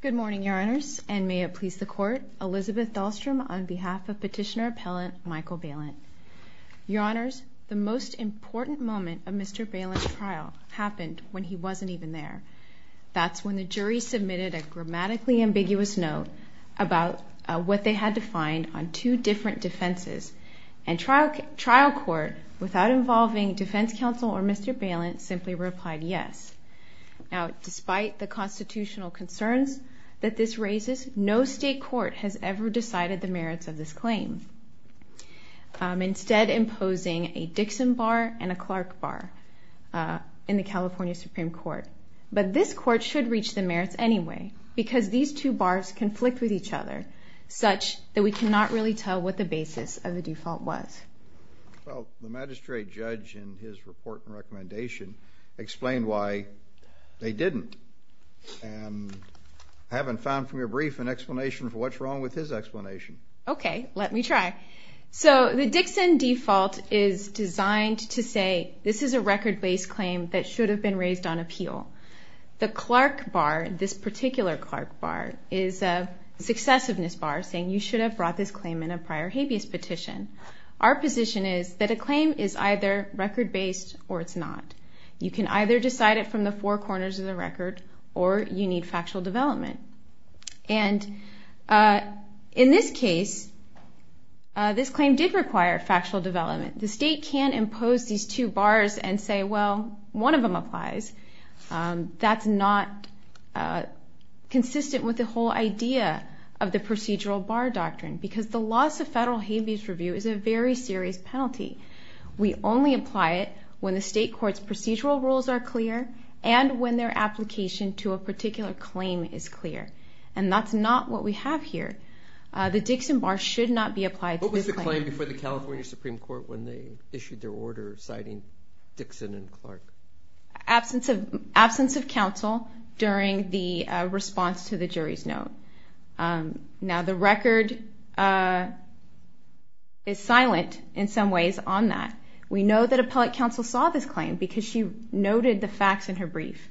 Good morning, Your Honors, and may it please the Court, Elizabeth Dahlstrom on behalf of Petitioner Appellant Michael Balint. Your Honors, the most important moment of Mr. Balint's trial happened when he wasn't even there. That's when the jury submitted a grammatically ambiguous note about what they had to find on two different defenses. And trial court, without involving defense counsel or Mr. Balint, simply replied yes. Now, despite the constitutional concerns that this raises, no state court has ever decided the merits of this claim, instead imposing a Dixon bar and a Clark bar in the California Supreme Court. But this two bars conflict with each other, such that we cannot really tell what the basis of the default was. Well, the magistrate judge, in his report and recommendation, explained why they didn't. I haven't found from your brief an explanation for what's wrong with his explanation. Okay, let me try. So the Dixon default is designed to say this is a record-based claim that should have been raised on appeal. The Clark bar, this particular Clark bar, is a successiveness bar, saying you should have brought this claim in a prior habeas petition. Our position is that a claim is either record-based or it's not. You can either decide it from the four corners of the record, or you need factual development. And in this case, this one of them applies. That's not consistent with the whole idea of the procedural bar doctrine, because the loss of federal habeas review is a very serious penalty. We only apply it when the state court's procedural rules are clear and when their application to a particular claim is clear. And that's not what we have here. The Dixon bar should not be applied to this claim. What was the claim before the California Supreme Court when they issued their order citing Dixon and Clark? Absence of counsel during the response to the jury's note. Now the record is silent in some ways on that. We know that appellate counsel saw this claim because she noted the facts in her brief.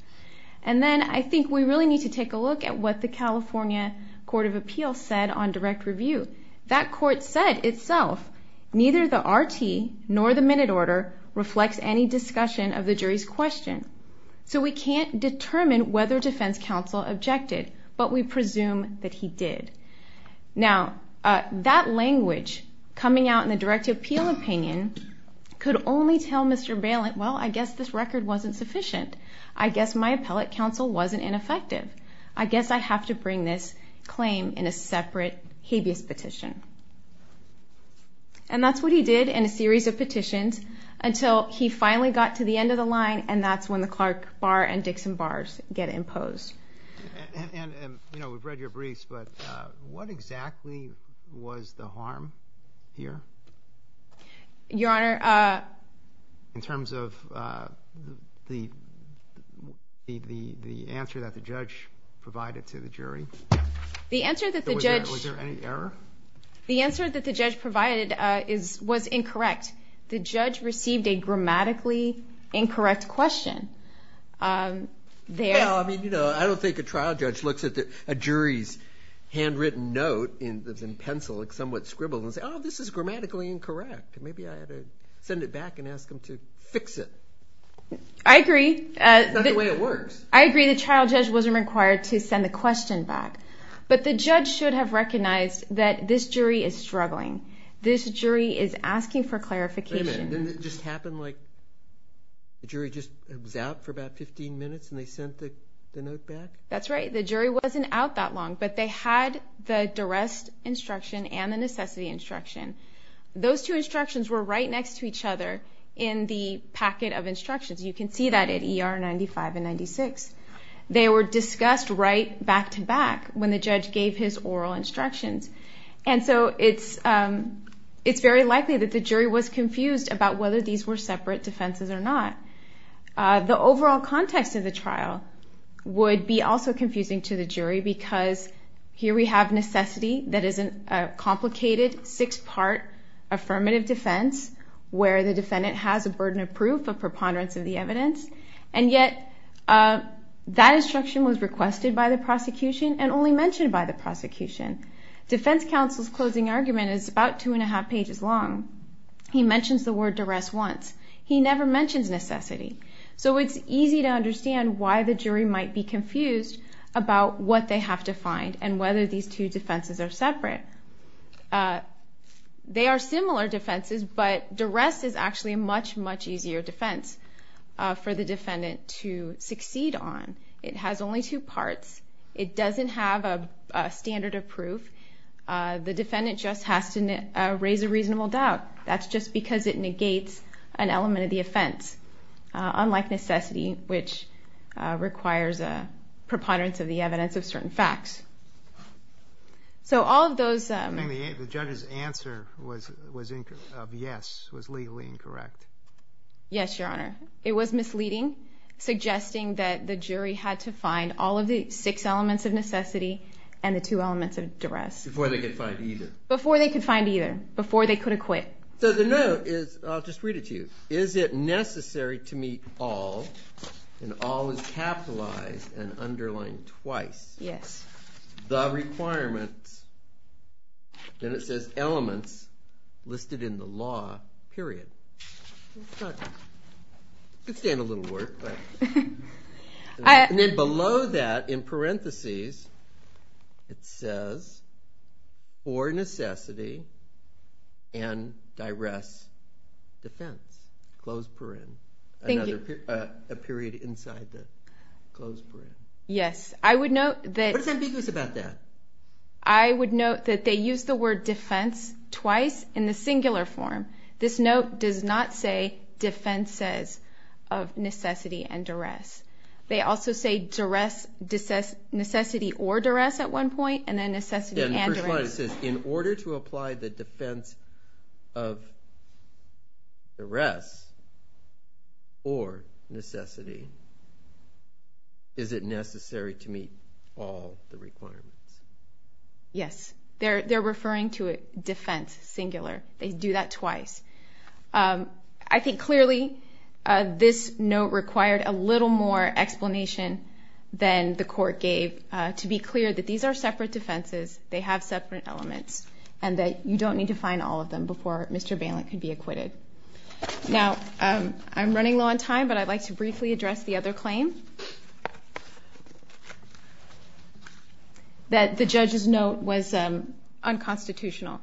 And then I think we really need to take a look at what the California Court of Appeals said on direct review. That court said itself, neither the RT nor the defense counsel objected to the discussion of the jury's question. So we can't determine whether defense counsel objected, but we presume that he did. Now that language coming out in the direct appeal opinion could only tell Mr. Bailent, well I guess this record wasn't sufficient. I guess my appellate counsel wasn't ineffective. I guess I have to bring this claim in a separate habeas petition. And that's what he did in a series of petitions until he finally got to the end of the line and that's when the Clark bar and Dixon bars get imposed. And, you know, we've read your briefs, but what exactly was the harm here? Your Honor... In terms of the answer that the judge provided to the jury? The answer that the judge... Was there any error? The answer that the judge provided was incorrect. The judge received a grammatically incorrect question. Well, I mean, you know, I don't think a trial judge looks at a jury's handwritten note in pencil, somewhat scribbled, and says, oh, this is grammatically incorrect. Maybe I ought to send it back and ask them to fix it. I agree. That's not the way it works. I agree the trial judge wasn't required to send the question back. But the judge should have recognized that this jury is struggling. This jury is asking for clarification. Wait a minute. Didn't it just happen like the jury just was out for about 15 minutes and they sent the note back? That's right. The jury wasn't out that long, but they had the duress instruction and the necessity instruction. Those two instructions were right next to each other in the packet of instructions. You can see that at ER 95 and 96. They were discussed right back to back when the judge gave his oral instructions. And so it's very likely that the jury was confused about whether these were separate defenses or not. The overall context of the trial would be also confusing to the jury because here we have necessity that is a complicated six-part affirmative defense where the defendant has a burden of proof, a preponderance of the evidence, and yet that instruction was requested by the prosecution and only mentioned by the prosecution. Defense counsel's closing argument is about two and a half pages long. He mentions the word duress once. He never mentions necessity. So it's easy to understand why the jury might be confused about what they have to find and whether these two defenses are separate. They are similar defenses, but duress is actually a much, much easier defense for the defendant to succeed on. It has only two parts. It doesn't have a standard of proof. The defendant just has to raise a reasonable doubt. That's just because it negates an element of the offense, unlike necessity, which requires a preponderance of the evidence of certain facts. So all of those... I think the judge's answer of yes was legally incorrect. Yes, Your Honor. It was misleading, suggesting that the jury had to find all of the six elements of necessity and the two elements of duress. Before they could find either. Before they could find either. Before they could acquit. So the note is, I'll just read it to you, is it necessary to meet all, and all is capitalized and underlined twice, the requirements, and it says elements, listed in the law, period. It could stand a little work, but... And then below that, in parentheses, it says, for necessity, and duress, defense. Closed parentheses. Thank you. A period inside the closed parentheses. Yes, I would note that... What is ambiguous about that? I would note that they use the word defense twice in the singular form. This note does not say defenses of necessity and duress. They also say duress, necessity or duress at one point, and then necessity and duress. It says, in order to apply the defense of duress or necessity, is it necessary to meet all the requirements? Yes. They're referring to it defense, singular. They do that twice. I think, clearly, this note required a little more explanation than the court gave. To be clear, that these are separate defenses. They have separate elements, and that you don't need to find all of them before Mr. Bailent can be acquitted. Now, I'm running low on time, but I'd like to briefly address the other claim that the judge's note was unconstitutional.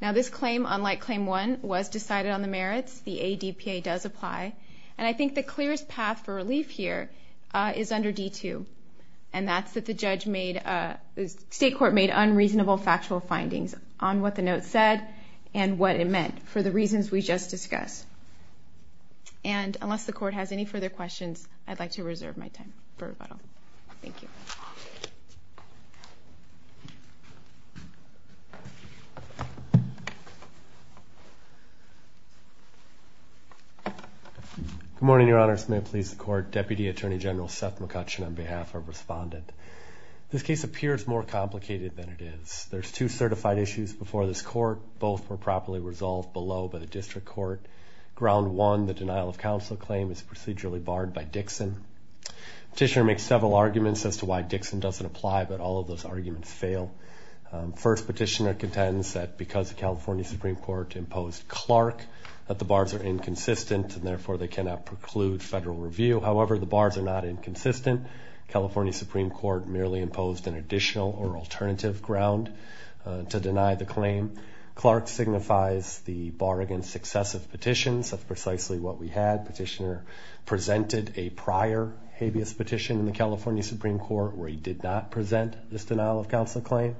Now, this claim, unlike Claim 1, was decided on the merits. The ADPA does apply, and I think the clearest path for relief here is under D2, and that's that the state court made unreasonable factual findings on what the note said and what it meant, for the reasons we just discussed. And unless the court has any further questions, I'd like to reserve my time for rebuttal. Thank you. Good morning, Your Honors. On behalf of the Justice Department, please support Deputy Attorney General Seth McCutcheon on behalf of Respondent. This case appears more complicated than it is. There's two certified issues before this court. Both were properly resolved below by the district court. Ground 1, the denial of counsel claim, is procedurally barred by Dixon. Petitioner makes several arguments as to why Dixon doesn't apply, but all of those arguments fail. First, Petitioner contends that because the California Supreme Court imposed Clark, that the However, the bars are not inconsistent. California Supreme Court merely imposed an additional or alternative ground to deny the claim. Clark signifies the bar against successive petitions. That's precisely what we had. Petitioner presented a prior habeas petition in the California Supreme Court where he did not present this denial of counsel claim.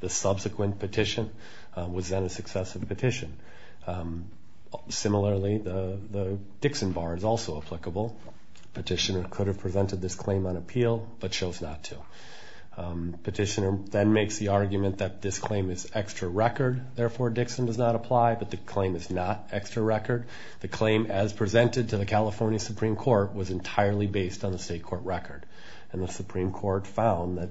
The subsequent petition was then a successive petition. Similarly, the Dixon bar is also applicable. Petitioner could have presented this claim on appeal, but chose not to. Petitioner then makes the argument that this claim is extra record. Therefore, Dixon does not apply, but the claim is not extra record. The claim as presented to the California Supreme Court was entirely based on the state court record. And the Supreme Court found that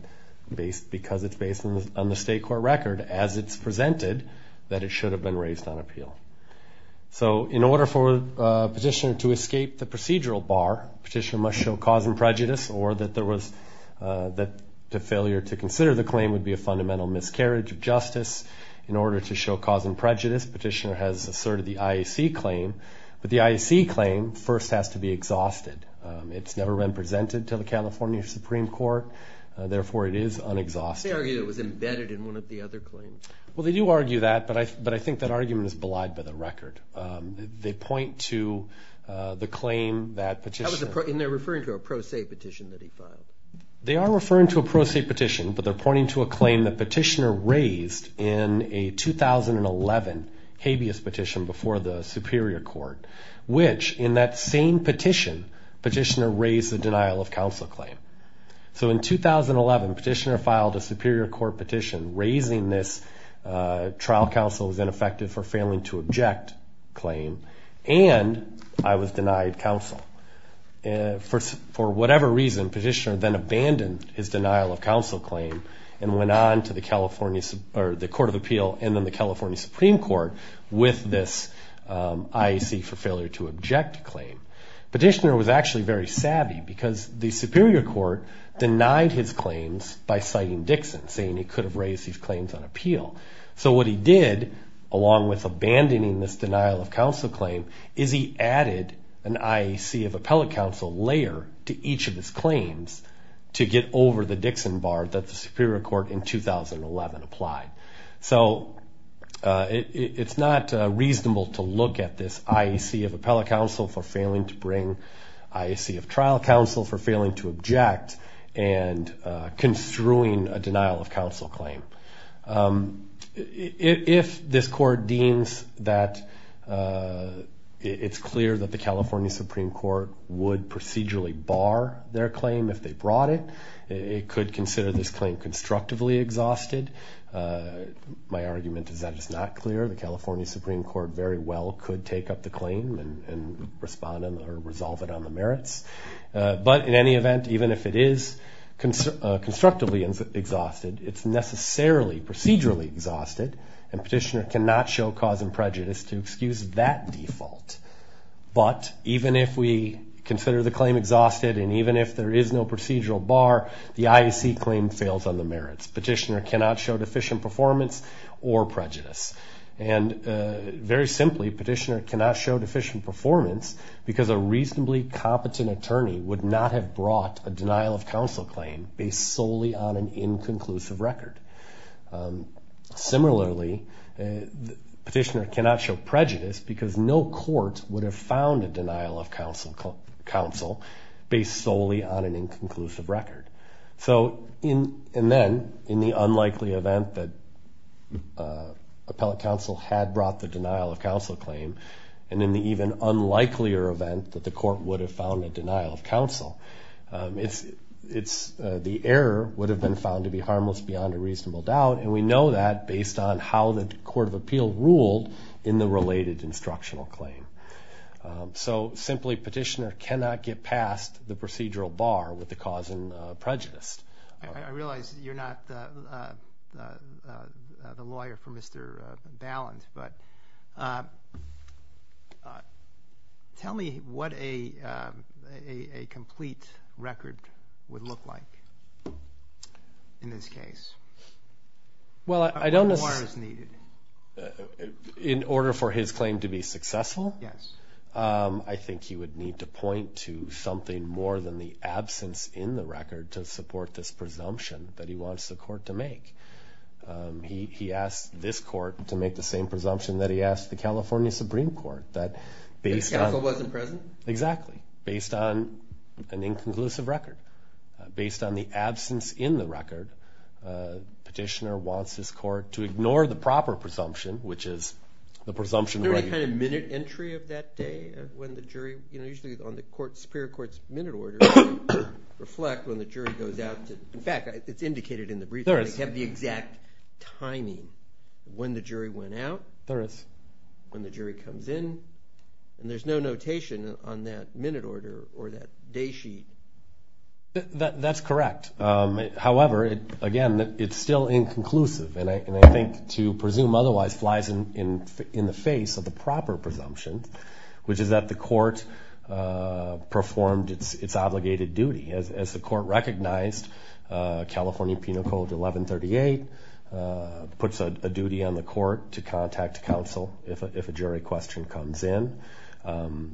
because it's based on the state court record as it's presented, that it should have been raised on appeal. So, in order for Petitioner to escape the procedural bar, Petitioner must show cause and prejudice or that the failure to consider the claim would be a fundamental miscarriage of justice. In order to show cause and prejudice, Petitioner has asserted the IAC claim. But the IAC claim first has to be exhausted. It's never been presented to the California Supreme Court. Therefore, it is unexhausted. They argue it was embedded in one of the other claims. Well, they do argue that, but I think that argument is belied by the record. They point to the claim that Petitioner... And they're referring to a pro se petition that he filed. They are referring to a pro se petition, but they're pointing to a claim that Petitioner raised in a 2011 habeas petition before the Superior Court, which in that same petition, Petitioner raised the denial of counsel claim. So, in 2011, Petitioner filed a Superior Court petition. Raising this trial counsel was ineffective for failing to object claim, and I was denied counsel. For whatever reason, Petitioner then abandoned his denial of counsel claim and went on to the Court of Appeal and then the California Supreme Court with this IAC for failure to object claim. Petitioner was actually very savvy because the Superior Court denied his claims by citing Dixon, saying he could have raised his claims on appeal. So what he did, along with abandoning this denial of counsel claim, is he added an IAC of appellate counsel layer to each of his claims to get over the Dixon bar that the Superior Court in 2011 applied. So, it's not reasonable to look at this IAC of appellate counsel for failing to bring, IAC of trial counsel for failing to object, and construing a denial of counsel claim. If this Court deems that it's clear that the California Supreme Court would procedurally bar their claim if they brought it, it could consider this claim constructively exhausted. My argument is that it's not clear. The California Supreme Court very well could take up the claim and respond or resolve it on the merits. But in any event, even if it is constructively exhausted, it's necessarily procedurally exhausted, and Petitioner cannot show cause and prejudice to excuse that default. But even if we consider the claim exhausted and even if there is no procedural bar, the IAC claim fails on the merits. Petitioner cannot show deficient performance or prejudice. And very simply, Petitioner cannot show deficient performance because a reasonably competent attorney would not have brought a denial of counsel claim based solely on an inconclusive record. Similarly, Petitioner cannot show prejudice because no court would have found a denial of counsel based solely on an inconclusive record. And then, in the unlikely event that appellate counsel had brought the denial of counsel claim, and in the even unlikelier event that the court would have found a denial of counsel, the error would have been found to be harmless beyond a reasonable doubt, and we know that based on how the Court of Appeal ruled in the related instructional claim. So simply, Petitioner cannot get past the procedural bar with the cause and prejudice. I realize you're not the lawyer for Mr. Ballant, but tell me what a complete record would look like in this case? Well, I don't necessarily... What bar is needed? In order for his claim to be successful? Yes. I think he would need to point to something more than the absence in the record to support this presumption that he wants the court to make. He asked this court to make the same presumption that he asked the California Supreme Court. That counsel wasn't present? Exactly. Based on the absence in the record, Petitioner wants his court to ignore the proper presumption, which is the presumption that he... Isn't there a kind of minute entry of that day when the jury, usually on the Superior Court's minute order, reflect when the jury goes out to... In fact, it's indicated in the brief. There is. They have the exact timing of when the jury went out. There is. When the jury comes in, and there's no notation on that minute order or that day sheet. That's correct. However, again, it's still inconclusive, and I think to presume otherwise flies in the face of the proper presumption, which is that the court performed its obligated duty. As the court recognized, California Penal Code 1138 puts a duty on the court to contact counsel if a jury question comes in.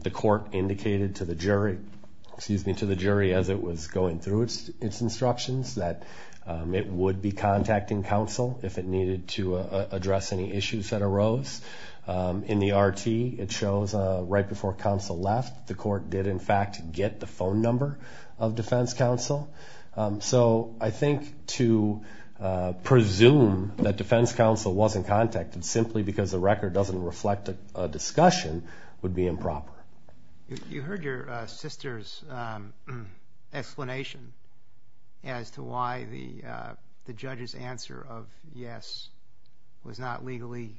The court indicated to the jury as it was going through its instructions that it would be contacting counsel if it needed to address any issues that arose. In the RT, it shows right before counsel left, the court did, in fact, get the phone number of defense counsel. So I think to presume that defense counsel wasn't contacted simply because the record doesn't reflect a discussion would be improper. You heard your sister's explanation as to why the judge's answer of yes was not legally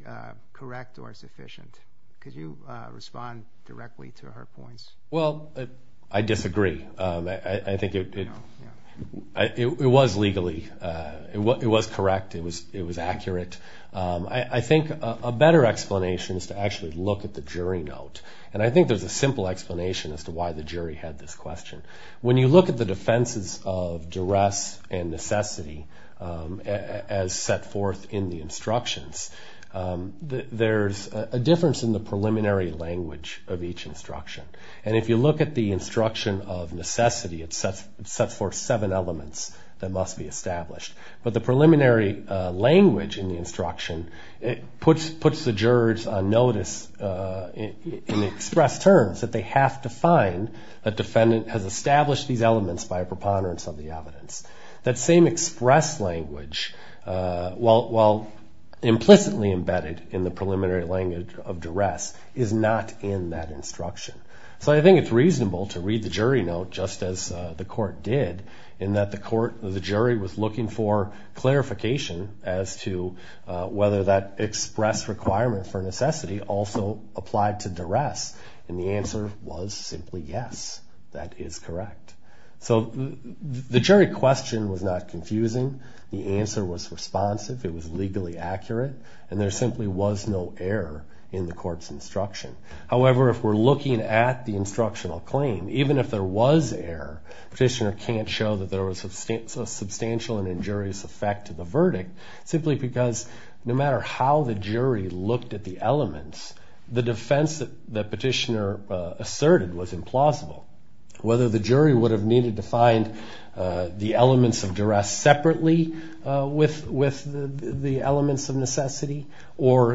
correct or sufficient. Could you respond directly to her points? Well, I disagree. I think it was legally. It was correct. It was accurate. I think a better explanation is to actually look at the jury note, and I think there's a simple explanation as to why the jury had this question. When you look at the defenses of duress and necessity as set forth in the instructions, there's a difference in the preliminary language of each instruction. And if you look at the instruction of necessity, it sets forth seven elements that must be established. But the preliminary language in the instruction puts the jurors on notice in express terms that they have to find a defendant has established these elements by a preponderance of the evidence. That same express language, while implicitly embedded in the preliminary language of duress, is not in that instruction. So I think it's reasonable to read the jury note just as the court did, in that the jury was looking for clarification as to whether that express requirement for necessity also applied to duress, and the answer was simply yes. That is correct. So the jury question was not confusing. The answer was responsive. It was legally accurate. And there simply was no error in the court's instruction. However, if we're looking at the instructional claim, even if there was error, Petitioner can't show that there was a substantial and injurious effect to the verdict, simply because no matter how the jury looked at the elements, the defense that Petitioner asserted was implausible. Whether the jury would have needed to find the elements of duress separately with the elements of necessity, or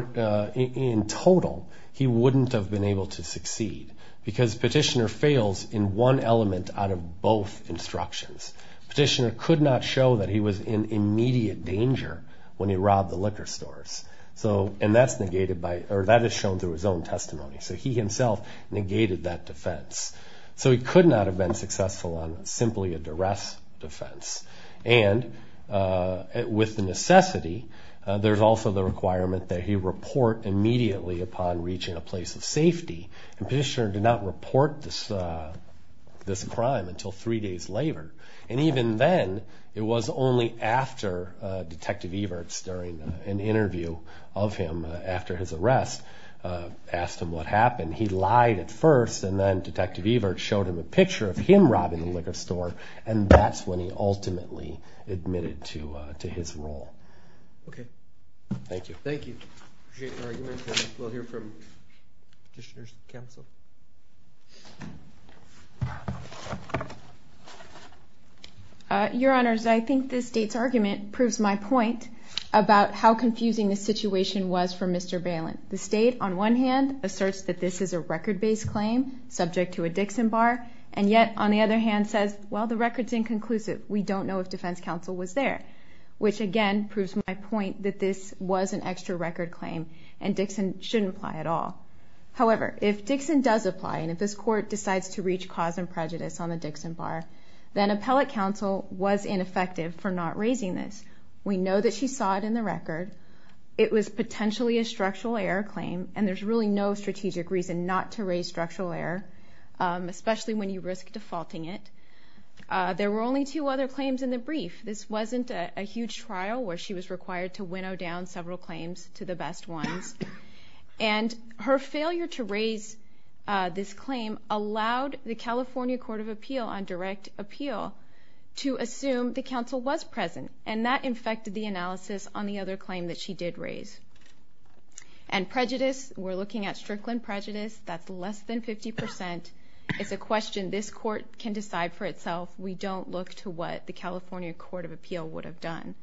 in total, he wouldn't have been able to succeed. Because Petitioner fails in one element out of both instructions. Petitioner could not show that he was in immediate danger when he robbed the liquor stores. And that is shown through his own testimony. So he himself negated that defense. So he could not have been successful on simply a duress defense. And with the necessity, And Petitioner did not report this crime until three days later. And even then, it was only after Detective Everts, during an interview of him after his arrest, asked him what happened. He lied at first, and then Detective Everts showed him a picture of him robbing the liquor store, and that's when he ultimately admitted to his role. Okay. Thank you. Thank you. We'll hear from Petitioner's counsel. Your Honors, I think this state's argument proves my point about how confusing the situation was for Mr. Bailen. The state, on one hand, asserts that this is a record-based claim subject to a Dixon bar, and yet, on the other hand, says, Well, the record's inconclusive. We don't know if defense counsel was there. Which, again, proves my point that this was an extra record claim, and Dixon shouldn't apply at all. However, if Dixon does apply, and if this Court decides to reach cause and prejudice on the Dixon bar, then appellate counsel was ineffective for not raising this. We know that she saw it in the record. It was potentially a structural error claim, and there's really no strategic reason not to raise structural error, There were only two other claims in the brief. This wasn't a huge trial, where she was required to winnow down several claims to the best ones. And her failure to raise this claim allowed the California Court of Appeal on direct appeal to assume the counsel was present, and that infected the analysis on the other claim that she did raise. And prejudice, we're looking at Strickland prejudice. That's less than 50%. It's a question this Court can decide for itself. We don't look to what the California Court of Appeal would have done.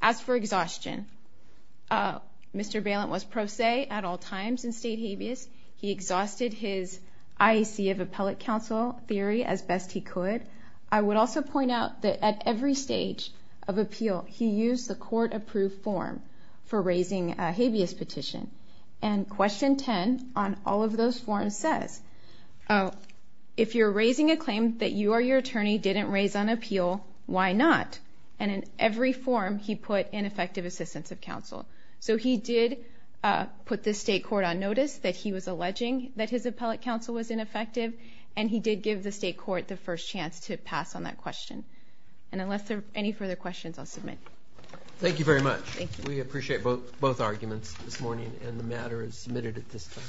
As for exhaustion, Mr. Bailent was pro se at all times in state habeas. He exhausted his IEC of appellate counsel theory as best he could. I would also point out that at every stage of appeal, he used the court-approved form for raising a habeas petition. And Question 10 on all of those forms says, if you're raising a claim that you or your attorney didn't raise on appeal, why not? And in every form, he put ineffective assistance of counsel. So he did put the state court on notice that he was alleging that his appellate counsel was ineffective, and he did give the state court the first chance to pass on that question. And unless there are any further questions, I'll submit. Thank you very much. We appreciate both arguments this morning, and the matter is submitted at this time.